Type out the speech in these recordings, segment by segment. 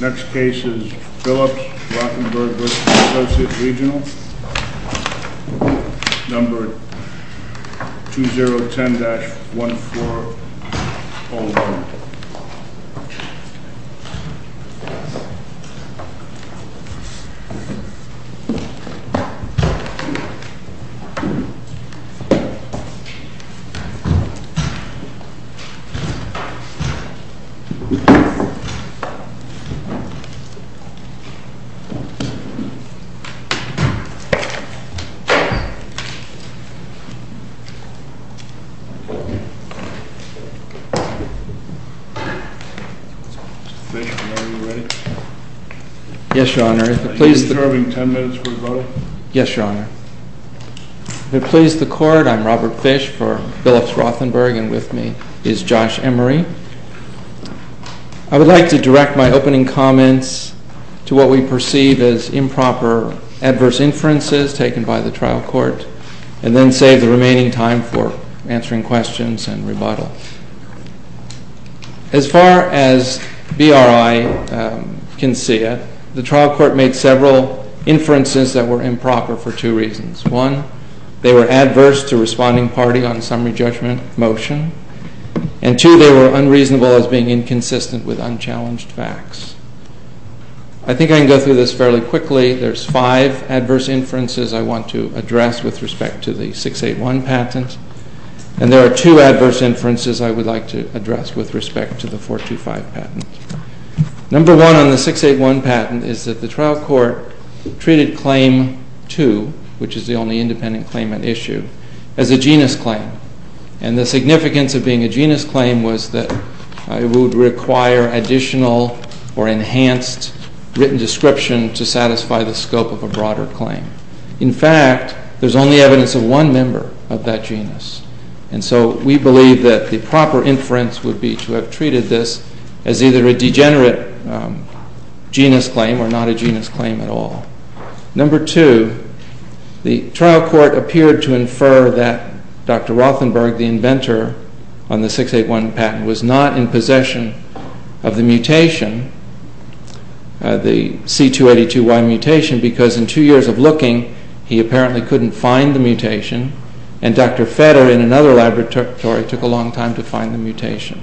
Next case is Philips-Rothenberg v. ASSOCIATE REGIONAL, numbered 2010-1401. If it please the Court, I am Robert Fish for Philips-Rothenberg, and with me is Josh Emery. I would like to direct my opening comments to what we perceive as improper adverse inferences taken by the trial court, and then save the remaining time for answering questions and rebuttal. As far as BRI can see it, the trial court made several inferences that were improper for two reasons. One, they were adverse to responding party on summary judgment motion. And two, they were unreasonable as being inconsistent with unchallenged facts. I think I can go through this fairly quickly. There are five adverse inferences I want to address with respect to the 681 patent. And there are two adverse inferences I would like to address with respect to the 425 patent. Number one on the 681 patent is that the trial court treated claim 2, which is the only independent claim at issue, as a genus claim. And the significance of being a genus claim was that it would require additional or enhanced written description to satisfy the scope of a broader claim. In fact, there is only evidence of one member of that genus. And so we believe that the proper inference would be to have treated this as either a degenerate genus claim or not a genus claim at all. Number two, the trial court appeared to infer that Dr. Rothenberg, the inventor on the 681 patent, was not in possession of the mutation, the C282Y mutation, because in two years of looking, he apparently couldn't find the mutation. And Dr. Fetter, in another laboratory, took a long time to find the mutation.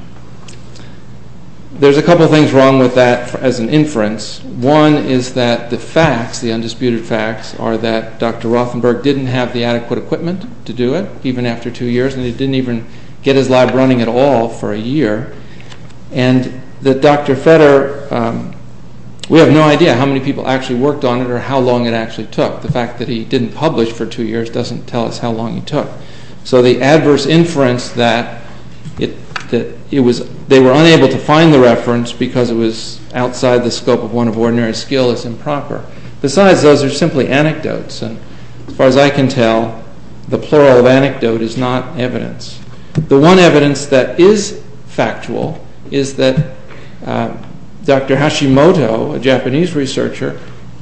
There's a couple of things wrong with that as an inference. One is that the facts, the undisputed facts, are that Dr. Rothenberg didn't have the adequate equipment to do it, even after two years, and he didn't even get his lab running at all for a year. And that Dr. Fetter, we have no idea how many people actually worked on it or how long it actually took. The fact that he didn't publish for two years doesn't tell us how long it took. So the adverse inference that they were unable to find the reference because it was outside the scope of one of ordinary skill is improper. Besides, those are simply anecdotes. And as far as I can tell, the plural of anecdote is not evidence. The one evidence that is factual is that Dr. Hashimoto, a Japanese researcher,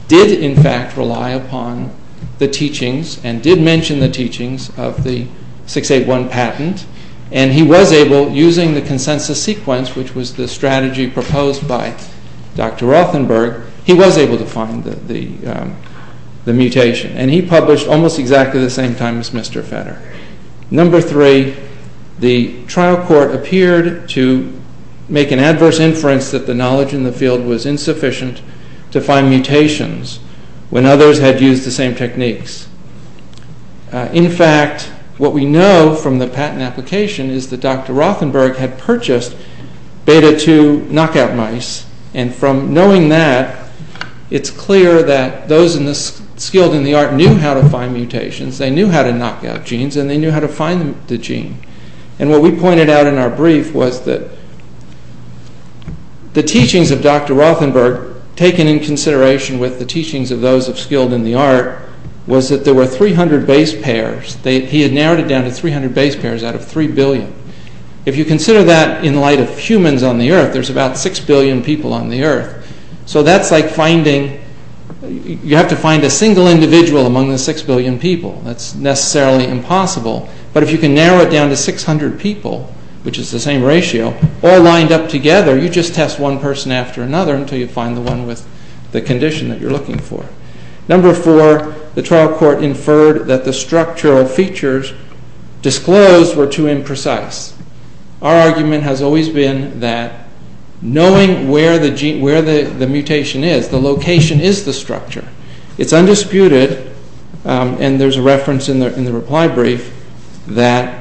did in fact rely upon the teachings and did mention the teachings of the 681 patent, and he was able, using the consensus sequence, which was the strategy proposed by Dr. Rothenberg, he was able to find the mutation. And he published almost exactly the same time as Mr. Fetter. Number three, the trial court appeared to make an adverse inference that the knowledge in the field was insufficient to find mutations when others had used the same techniques. In fact, what we know from the patent application is that Dr. Rothenberg had purchased beta-2 knockout mice, and from knowing that, it's clear that those skilled in the art knew how to find mutations, they knew how to knock out genes, and they knew how to find the gene. And what we pointed out in our brief was that the teachings of Dr. Rothenberg, taken in consideration with the teachings of those skilled in the art, was that there were 300 base pairs. He had narrowed it down to 300 base pairs out of 3 billion. If you consider that in light of humans on the earth, there's about 6 billion people on the earth. So that's like finding, you have to find a single individual among the 6 billion people. That's necessarily impossible. But if you can narrow it down to 600 people, which is the same ratio, all lined up together, you just test one person after another until you find the one with the condition that you're looking for. Number four, the trial court inferred that the structural features disclosed were too imprecise. Our argument has always been that knowing where the mutation is, the location, is the structure. It's undisputed, and there's a reference in the reply brief, that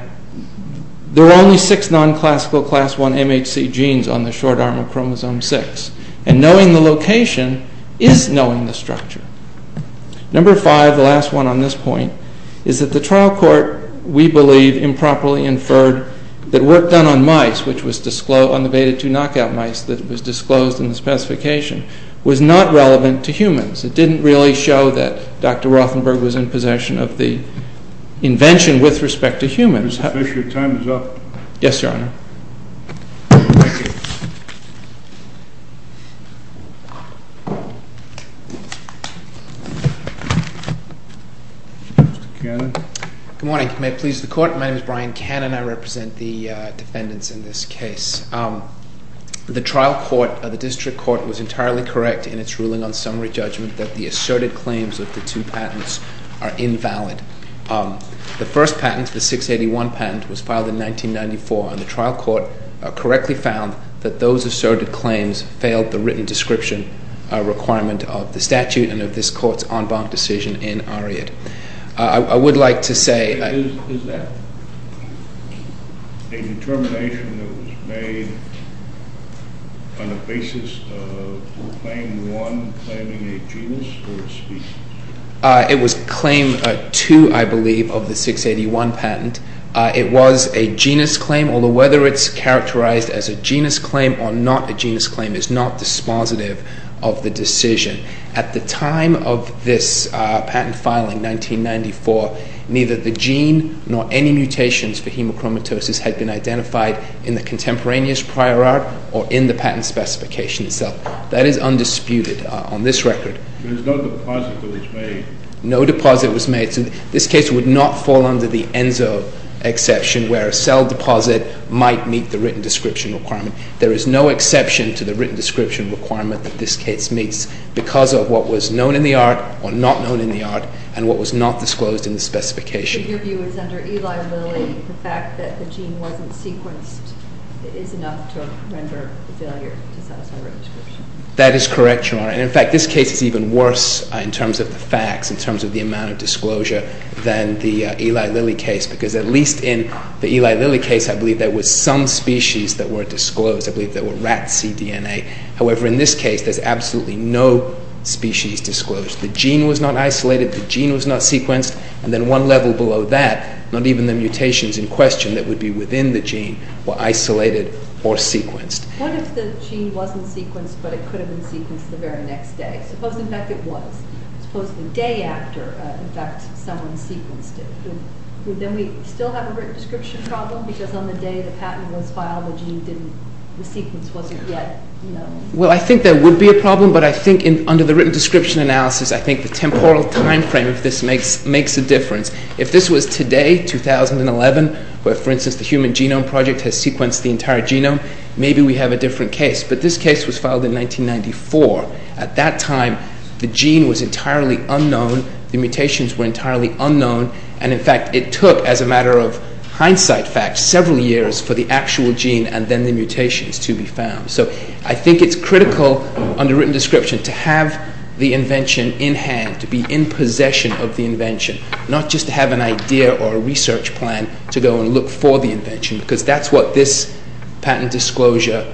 there are only 6 non-classical class 1 MHC genes on the short arm of chromosome 6. And knowing the location is knowing the structure. Number five, the last one on this point, is that the trial court, we believe, improperly inferred that work done on mice, which was on the beta 2 knockout mice that was disclosed in the specification, was not relevant to humans. It didn't really show that Dr. Rothenberg was in possession of the invention with respect to humans. Mr. Fisher, your time is up. Yes, Your Honor. Thank you. Mr. Cannon. Good morning. May it please the Court, my name is Brian Cannon. I represent the defendants in this case. The trial court, the district court, was entirely correct in its ruling on summary judgment that the asserted claims of the two patents are invalid. The first patent, the 681 patent, was filed in 1994, and the trial court correctly found that those asserted claims failed the written description requirement of the statute and of this Court's en banc decision in Ariadne. I would like to say... Is that a determination that was made on the basis of Claim 1 claiming a genus or a species? It was Claim 2, I believe, of the 681 patent. It was a genus claim, although whether it's characterized as a genus claim or not a genus claim is not dispositive of the decision. At the time of this patent filing, 1994, neither the gene nor any mutations for hemochromatosis had been identified in the contemporaneous prior art or in the patent specification itself. That is undisputed on this record. There was no deposit that was made? No deposit was made. This case would not fall under the ENSO exception, where a cell deposit might meet the written description requirement. There is no exception to the written description requirement that this case meets because of what was known in the art or not known in the art and what was not disclosed in the specification. But your view is under Eli Lilly, the fact that the gene wasn't sequenced is enough to render the failure to satisfy written description? That is correct, Your Honor. In fact, this case is even worse in terms of the facts, in terms of the amount of disclosure than the Eli Lilly case because at least in the Eli Lilly case, I believe there was some species that were disclosed. I believe there were rats' cDNA. However, in this case, there's absolutely no species disclosed. The gene was not isolated, the gene was not sequenced, and then one level below that, not even the mutations in question that would be within the gene were isolated or sequenced. What if the gene wasn't sequenced but it could have been sequenced the very next day? Suppose, in fact, it was. Suppose the day after, in fact, someone sequenced it. Would then we still have a written description problem because on the day the patent was filed, the sequence wasn't yet known? Well, I think there would be a problem, but I think under the written description analysis, I think the temporal time frame of this makes a difference. If this was today, 2011, where, for instance, the Human Genome Project has sequenced the entire genome, maybe we have a different case, but this case was filed in 1994. At that time, the gene was entirely unknown, the mutations were entirely unknown, and, in fact, it took, as a matter of hindsight fact, several years for the actual gene and then the mutations to be found. So I think it's critical under written description to have the invention in hand, to be in possession of the invention, not just to have an idea or a research plan to go and look for the invention because that's what this patent disclosure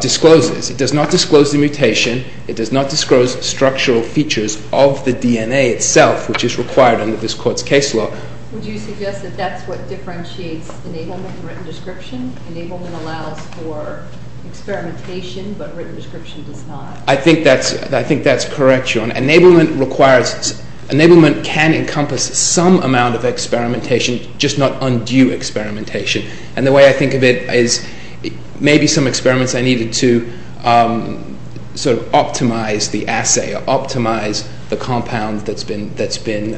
discloses. It does not disclose the mutation. It does not disclose structural features of the DNA itself, which is required under this Court's case law. Would you suggest that that's what differentiates enablement from written description? Enablement allows for experimentation, but written description does not. I think that's correct, John. Enablement can encompass some amount of experimentation, just not undue experimentation, and the way I think of it is maybe some experiments I needed to sort of optimize the assay or optimize the compound that's been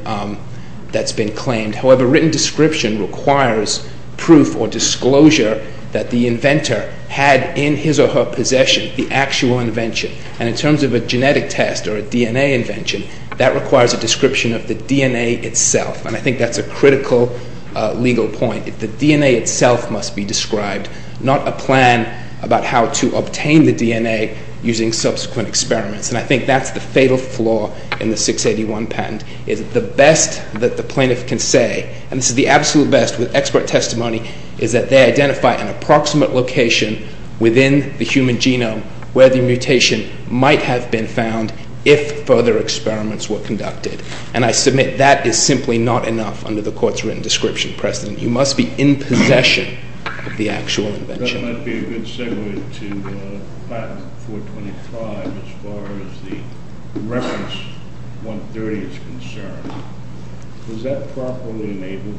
claimed. However, written description requires proof or disclosure that the inventor had in his or her possession the actual invention, and in terms of a genetic test or a DNA invention, that requires a description of the DNA itself, and I think that's a critical legal point. The DNA itself must be described, not a plan about how to obtain the DNA using subsequent experiments, and I think that's the fatal flaw in the 681 patent, is the best that the plaintiff can say, and this is the absolute best with expert testimony, is that they identify an approximate location within the human genome where the mutation might have been found if further experiments were conducted, and I submit that is simply not enough under the court's written description precedent. You must be in possession of the actual invention. That might be a good segue to patent 425 as far as the reference 130 is concerned. Was that properly enabled?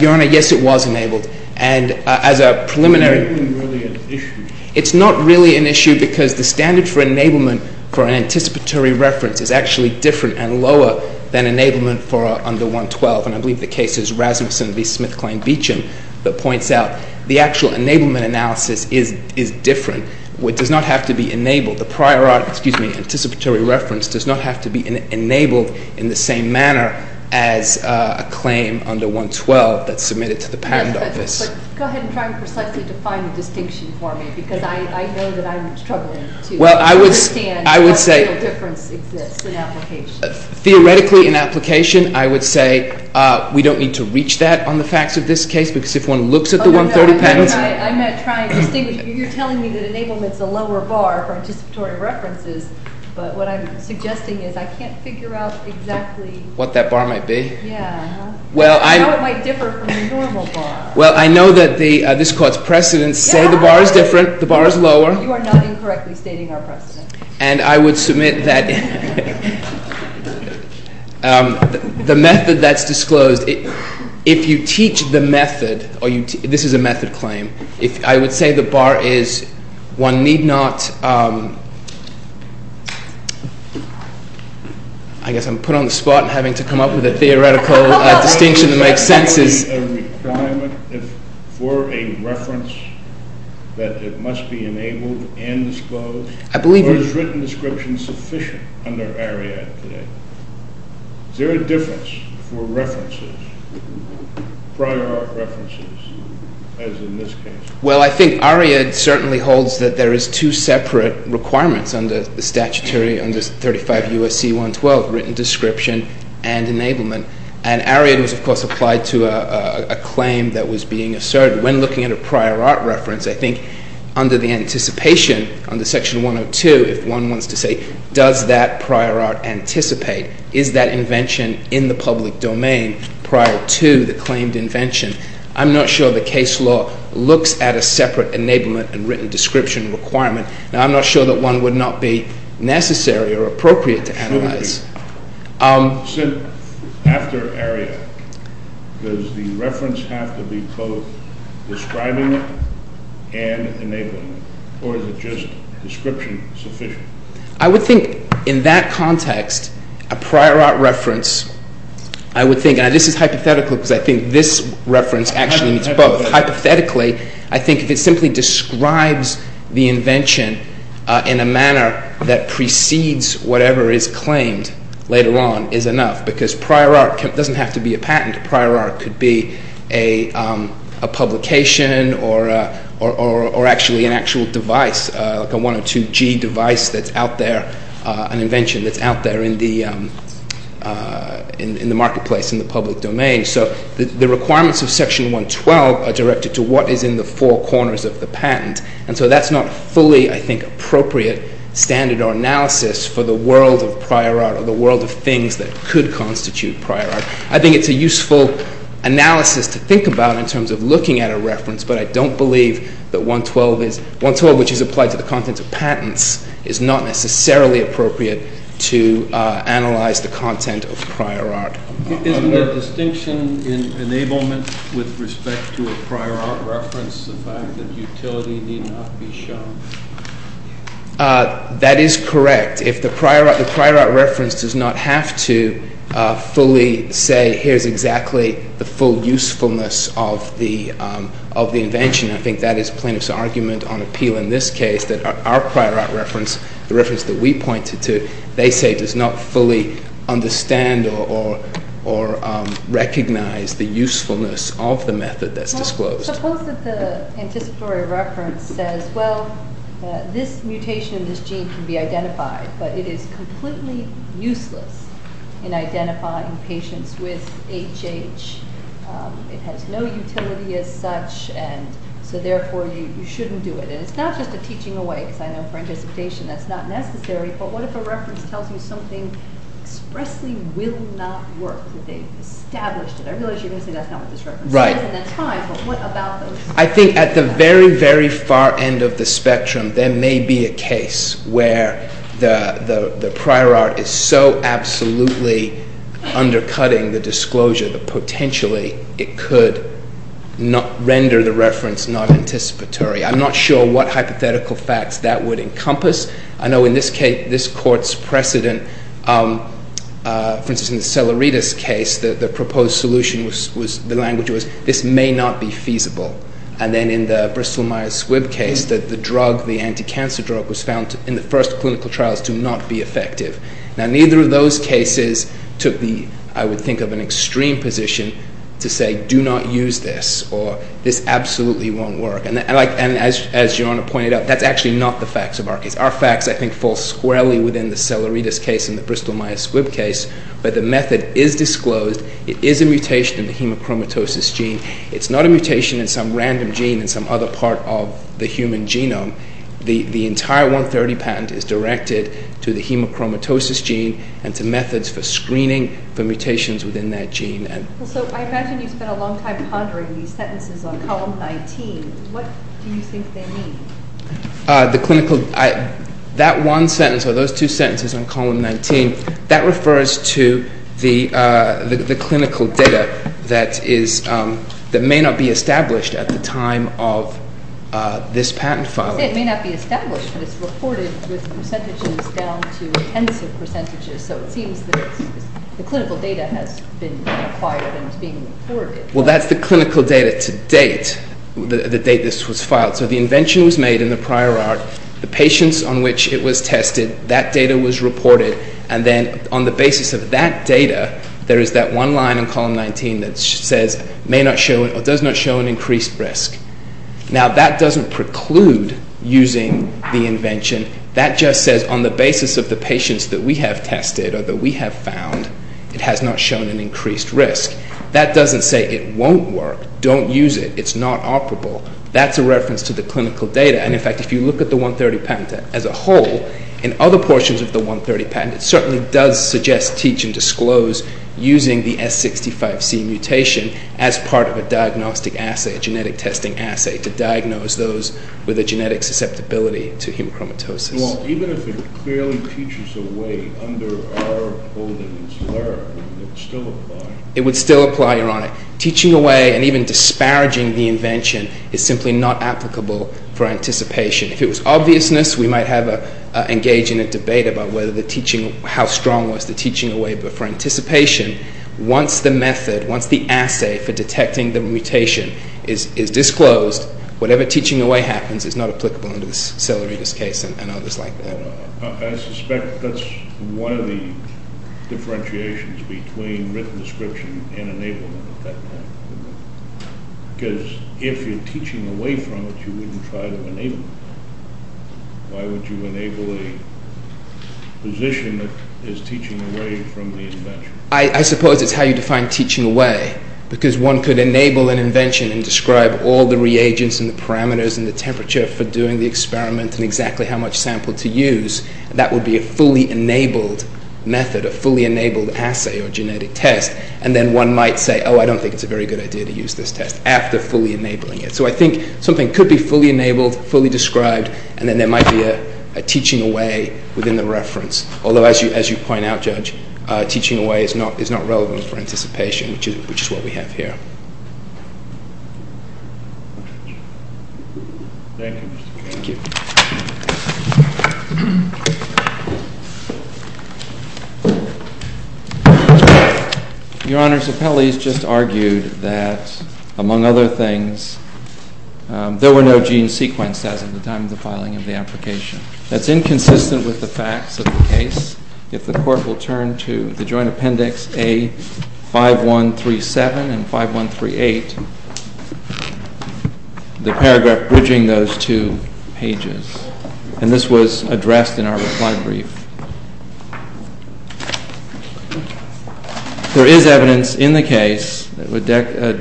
Your Honor, yes, it was enabled, and as a preliminary... It's not really an issue. It's not really an issue because the standard for enablement for an anticipatory reference is actually different and lower than enablement for under 112, and I believe the case is Rasmussen v. Smithkline-Beacham that points out the actual enablement analysis is different. It does not have to be enabled. The prior art, excuse me, anticipatory reference does not have to be enabled in the same manner as a claim under 112 that's submitted to the patent office. But go ahead and try and precisely define the distinction for me because I know that I'm struggling to understand. Well, I would say... Understand how the real difference exists in application. Theoretically in application, I would say we don't need to reach that on the facts of this case because if one looks at the 130 patents... I'm not trying to distinguish. You're telling me that enablement's a lower bar for anticipatory references, but what I'm suggesting is I can't figure out exactly... What that bar might be. Yeah. How it might differ from the normal bar. Well, I know that this court's precedents say the bar is different, the bar is lower. You are not incorrectly stating our precedents. And I would submit that the method that's disclosed, if you teach the method, this is a method claim, I would say the bar is one need not... I guess I'm put on the spot having to come up with a theoretical distinction that makes sense. Is there a requirement for a reference that it must be enabled and disclosed? I believe... Or is written description sufficient under Ariadne today? Is there a difference for references, prior art references, as in this case? Well, I think Ariadne certainly holds that there is two separate requirements under the statutory, under 35 U.S.C. 112, written description and enablement. And Ariadne was, of course, applied to a claim that was being asserted. When looking at a prior art reference, I think under the anticipation, under Section 102, if one wants to say, does that prior art anticipate? Is that invention in the public domain prior to the claimed invention? I'm not sure the case law looks at a separate enablement and written description requirement. And I'm not sure that one would not be necessary or appropriate to analyze. After Ariadne, does the reference have to be both describing it and enabling it? Or is it just description sufficient? I would think in that context, a prior art reference, I would think, and this is hypothetical because I think this reference actually needs both. Hypothetically, I think if it simply describes the invention in a manner that precedes whatever is claimed later on is enough because prior art doesn't have to be a patent. Prior art could be a publication or actually an actual device, like a 102G device that's out there, an invention that's out there in the marketplace, in the public domain. So the requirements of Section 112 are directed to what is in the four corners of the patent. And so that's not fully, I think, appropriate standard or analysis for the world of prior art or the world of things that could constitute prior art. I think it's a useful analysis to think about in terms of looking at a reference, but I don't believe that 112, which is applied to the contents of patents, is not necessarily appropriate to analyze the content of prior art. Isn't the distinction in enablement with respect to a prior art reference the fact that utility need not be shown? That is correct. If the prior art reference does not have to fully say, here's exactly the full usefulness of the invention, I think that is plaintiff's argument on appeal in this case, that our prior art reference, the reference that we pointed to, they say does not fully understand or recognize the usefulness of the method that's disclosed. Suppose that the anticipatory reference says, well, this mutation in this gene can be identified, but it is completely useless in identifying patients with HH. It has no utility as such, and so therefore you shouldn't do it. And it's not just a teaching away, because I know for anticipation that's not necessary, but what if a reference tells you something expressly will not work? I realize you're going to say that's not what this reference says, and that's fine, but what about those? I think at the very, very far end of the spectrum, there may be a case where the prior art is so absolutely undercutting the disclosure that potentially it could render the reference not anticipatory. I'm not sure what hypothetical facts that would encompass. I know in this case, this Court's precedent, for instance, in the Seleritis case, the proposed solution was, the language was, this may not be feasible. And then in the Bristol-Myers-Squibb case, that the drug, the anti-cancer drug, was found in the first clinical trials to not be effective. Now, neither of those cases took the, I would think, of an extreme position to say do not use this, or this absolutely won't work. And as Your Honor pointed out, that's actually not the facts of our case. Our facts, I think, fall squarely within the Seleritis case and the Bristol-Myers-Squibb case. But the method is disclosed. It is a mutation in the hemochromatosis gene. It's not a mutation in some random gene in some other part of the human genome. The entire 130 patent is directed to the hemochromatosis gene and to methods for screening for mutations within that gene. So I imagine you spent a long time pondering these sentences on column 19. What do you think they mean? The clinical, that one sentence or those two sentences on column 19, that refers to the clinical data that may not be established at the time of this patent filing. It may not be established, but it's reported with percentages down to intensive percentages. So it seems that the clinical data has been acquired and is being reported. Well, that's the clinical data to date, the date this was filed. So the invention was made in the prior art. The patients on which it was tested, that data was reported. And then on the basis of that data, there is that one line in column 19 that says, may not show or does not show an increased risk. Now, that doesn't preclude using the invention. That just says on the basis of the patients that we have tested or that we have found, it has not shown an increased risk. That doesn't say it won't work. Don't use it. It's not operable. That's a reference to the clinical data. And, in fact, if you look at the 130 patent as a whole, in other portions of the 130 patent it certainly does suggest, teach, and disclose using the S65C mutation as part of a diagnostic assay, a genetic testing assay, to diagnose those with a genetic susceptibility to hemochromatosis. Well, even if it clearly teaches a way under our holdings, where would it still apply? It would still apply, Ironic. Teaching away and even disparaging the invention is simply not applicable for anticipation. If it was obviousness, we might engage in a debate about how strong was the teaching away, but for anticipation, once the method, once the assay for detecting the mutation is disclosed, whatever teaching away happens is not applicable under the Celeridis case and others like that. I suspect that's one of the differentiations between written description and enablement at that point. Because if you're teaching away from it, you wouldn't try to enable it. Why would you enable a position that is teaching away from the invention? I suppose it's how you define teaching away, because one could enable an invention and describe all the reagents and the parameters and the temperature for doing the experiment and exactly how much sample to use. That would be a fully enabled method, a fully enabled assay or genetic test. And then one might say, oh, I don't think it's a very good idea to use this test after fully enabling it. So I think something could be fully enabled, fully described, and then there might be a teaching away within the reference. Although, as you point out, Judge, teaching away is not relevant for anticipation, which is what we have here. Thank you, Mr. Chairman. Thank you. Your Honor, the appellees just argued that, among other things, there were no gene sequences at the time of the filing of the application. If the Court will turn to the Joint Appendix A5137 and 5138, the paragraph bridging those two pages. And this was addressed in our reply brief. There is evidence in the case, a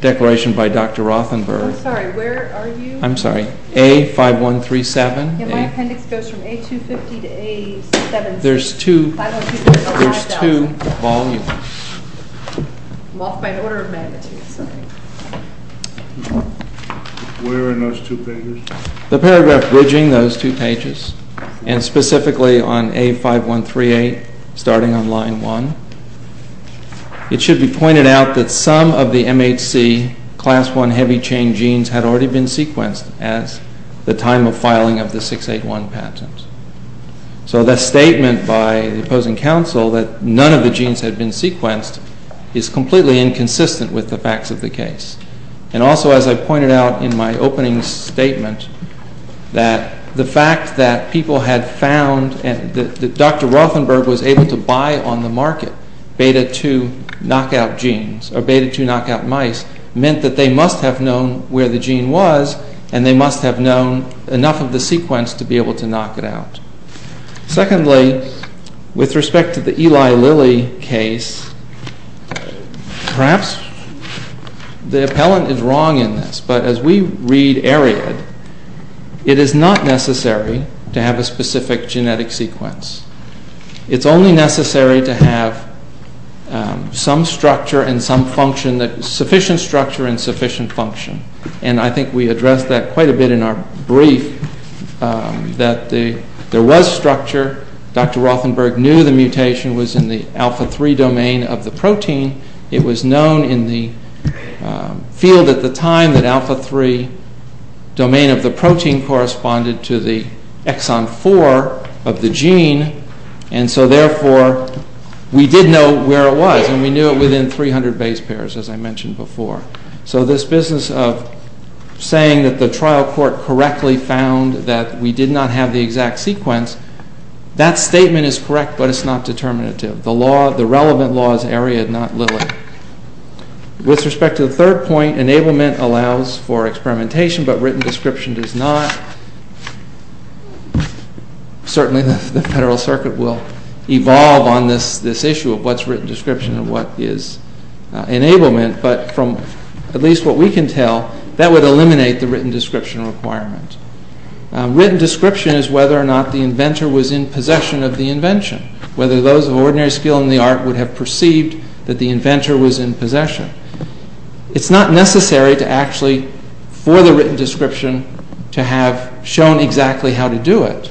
declaration by Dr. Rothenberg. I'm sorry, where are you? I'm sorry. A5137. My appendix goes from A250 to A7C. There's two volumes. I'm off by an order of magnitude. Where are those two pages? The paragraph bridging those two pages, and specifically on A5138, starting on line one. It should be pointed out that some of the MHC Class I heavy chain genes had already been sequenced at the time of filing of the 681 patent. So the statement by the opposing counsel that none of the genes had been sequenced is completely inconsistent with the facts of the case. And also, as I pointed out in my opening statement, that the fact that people had found that Dr. Rothenberg was able to buy on the market Beta 2 knockout genes, or Beta 2 knockout mice, meant that they must have known where the gene was, and they must have known enough of the sequence to be able to knock it out. Secondly, with respect to the Eli Lilly case, perhaps the appellant is wrong in this, but as we read Ariad, it is not necessary to have a specific genetic sequence. It's only necessary to have some structure and some function, sufficient structure and sufficient function. And I think we addressed that quite a bit in our brief, that there was structure. Dr. Rothenberg knew the mutation was in the Alpha 3 domain of the protein. It was known in the field at the time that Alpha 3 domain of the protein corresponded to the Exon 4 of the gene. And so therefore, we did know where it was, and we knew it within 300 base pairs, as I mentioned before. So this business of saying that the trial court correctly found that we did not have the exact sequence, that statement is correct, but it's not determinative. The relevant law is Ariad, not Lilly. With respect to the third point, enablement allows for experimentation, but written description does not. Certainly the Federal Circuit will evolve on this issue of what's written description and what is enablement, but from at least what we can tell, that would eliminate the written description requirement. Written description is whether or not the inventor was in possession of the invention, whether those of ordinary skill in the art would have perceived that the inventor was in possession. It's not necessary actually for the written description to have shown exactly how to do it,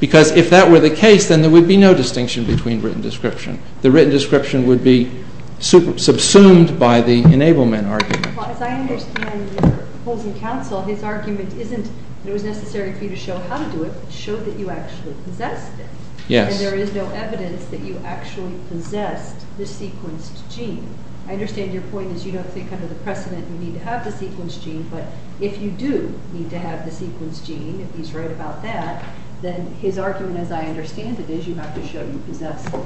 because if that were the case, then there would be no distinction between written description. The written description would be subsumed by the enablement argument. Well, as I understand your opposing counsel, his argument isn't that it was necessary for you to show how to do it, but show that you actually possessed it. Yes. And there is no evidence that you actually possessed the sequenced gene. I understand your point is you don't think under the precedent you need to have the sequenced gene, but if you do need to have the sequenced gene, if he's right about that, then his argument, as I understand it, is you have to show you possess it.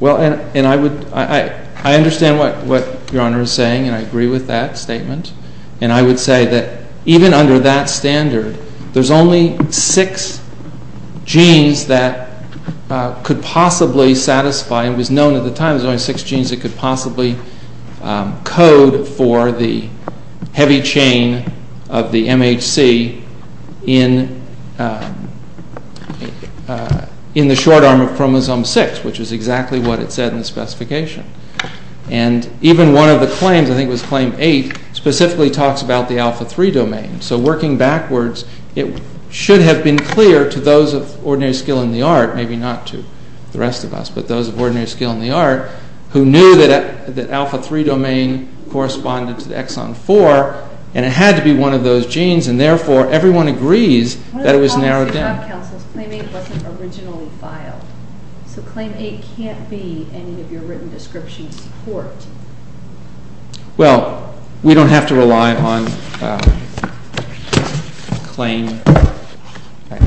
Well, and I understand what Your Honor is saying, and I agree with that statement, and I would say that even under that standard, there's only six genes that could possibly satisfy, and it was known at the time there was only six genes that could possibly code for the heavy chain of the MHC in the short arm of chromosome 6, which is exactly what it said in the specification. And even one of the claims, I think it was claim 8, specifically talks about the alpha-3 domain. So working backwards, it should have been clear to those of ordinary skill in the art, maybe not to the rest of us, but those of ordinary skill in the art who knew that the alpha-3 domain corresponded to the exon 4, and it had to be one of those genes, and therefore everyone agrees that it was narrowed down. One of the problems with trial counsel is claim 8 wasn't originally filed. So claim 8 can't be any of your written description support. Well, we don't have to rely on claim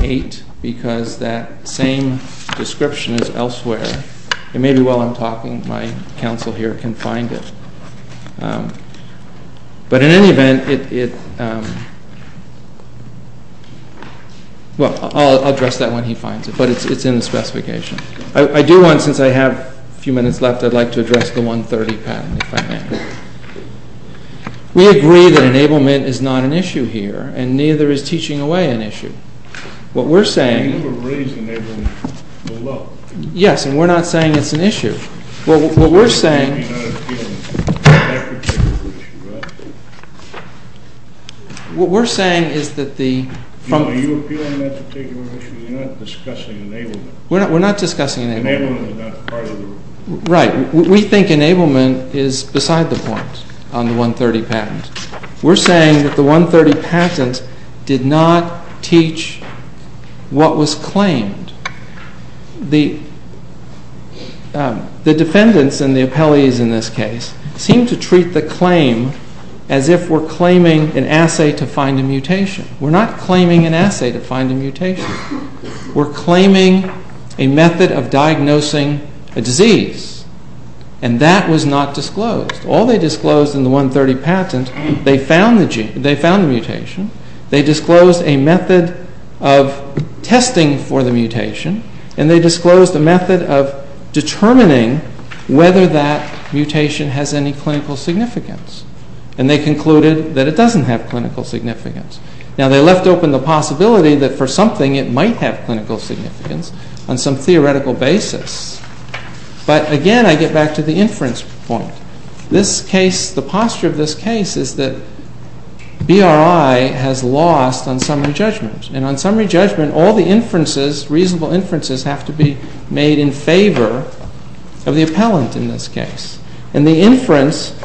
8 because that same description is elsewhere, and maybe while I'm talking, my counsel here can find it. But in any event, it... Well, I'll address that when he finds it, but it's in the specification. I do want, since I have a few minutes left, I'd like to address the 130 pattern, if I may. We agree that enablement is not an issue here, and neither is teaching away an issue. What we're saying... You never raised enablement below. Yes, and we're not saying it's an issue. What we're saying... You're not appealing to that particular issue, right? What we're saying is that the... You're appealing to that particular issue. You're not discussing enablement. We're not discussing enablement. Enablement is not part of the rule. Right. We think enablement is beside the point on the 130 patent. We're saying that the 130 patent did not teach what was claimed. The defendants and the appellees in this case seem to treat the claim as if we're claiming an assay to find a mutation. We're not claiming an assay to find a mutation. We're claiming a method of diagnosing a disease, and that was not disclosed. All they disclosed in the 130 patent, they found the mutation, they disclosed a method of testing for the mutation, and they disclosed a method of determining whether that mutation has any clinical significance. And they concluded that it doesn't have clinical significance. Now, they left open the possibility that for something it might have clinical significance on some theoretical basis. But, again, I get back to the inference point. This case, the posture of this case, is that BRI has lost on summary judgment. And on summary judgment, all the inferences, reasonable inferences, have to be made in favor of the appellant in this case. And the inference,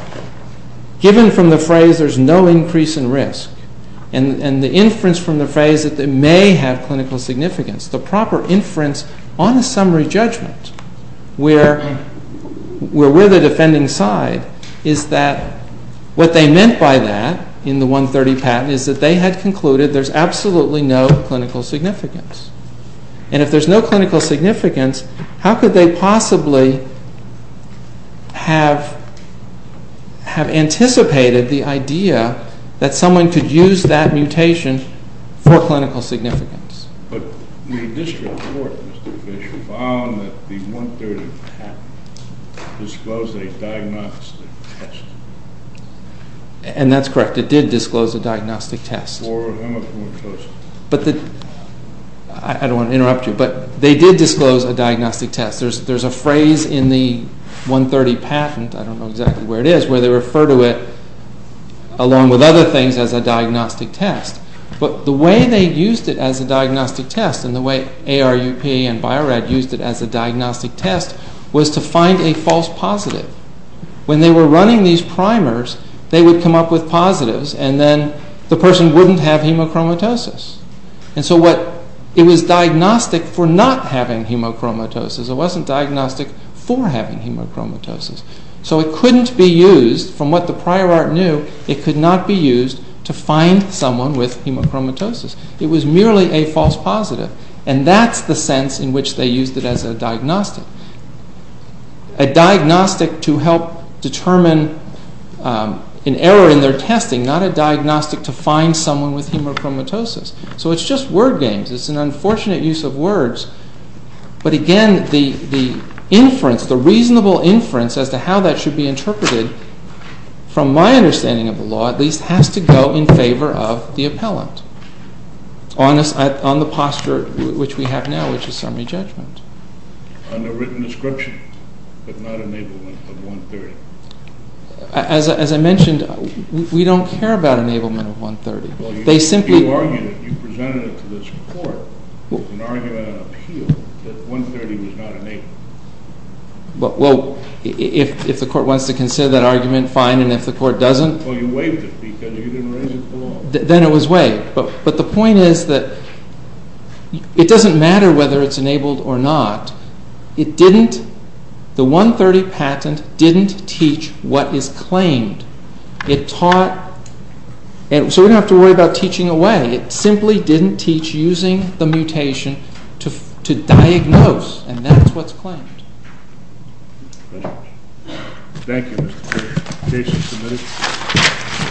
given from the phrase, there's no increase in risk, and the inference from the phrase that they may have clinical significance, the proper inference on a summary judgment, where we're the defending side, is that what they meant by that in the 130 patent is that they had concluded there's absolutely no clinical significance. And if there's no clinical significance, how could they possibly have anticipated the idea that someone could use that mutation for clinical significance? But the district court, Mr. Fisher, found that the 130 patent disclosed a diagnostic test. And that's correct. It did disclose a diagnostic test. For hemopneumatosis. But the... I don't want to interrupt you, but they did disclose a diagnostic test. There's a phrase in the 130 patent, I don't know exactly where it is, where they refer to it, along with other things, as a diagnostic test. But the way they used it as a diagnostic test, and the way ARUP and Bio-Rad used it as a diagnostic test, was to find a false positive. When they were running these primers, they would come up with positives, and then the person wouldn't have hemochromatosis. And so it was diagnostic for not having hemochromatosis. It wasn't diagnostic for having hemochromatosis. So it couldn't be used, from what the prior art knew, it could not be used to find someone with hemochromatosis. It was merely a false positive. And that's the sense in which they used it as a diagnostic. A diagnostic to help determine an error in their testing, not a diagnostic to find someone with hemochromatosis. So it's just word games. It's an unfortunate use of words. But again, the inference, the reasonable inference, as to how that should be interpreted, from my understanding of the law, at least, has to go in favor of the appellant, on the posture which we have now, which is summary judgment. Underwritten description, but not enablement of 130. As I mentioned, we don't care about enablement of 130. Well, you argued it. You presented it to this court as an argument of appeal that 130 was not enabled. Well, if the court wants to consider that argument, fine. And if the court doesn't... Well, you waived it because you didn't raise it to the law. Then it was waived. But the point is that it doesn't matter whether it's enabled or not. It didn't... The 130 patent didn't teach what is claimed. It taught... So we don't have to worry about teaching away. It simply didn't teach using the mutation to diagnose, and that's what's claimed. Thank you. Thank you, Mr. Chair. Case is submitted.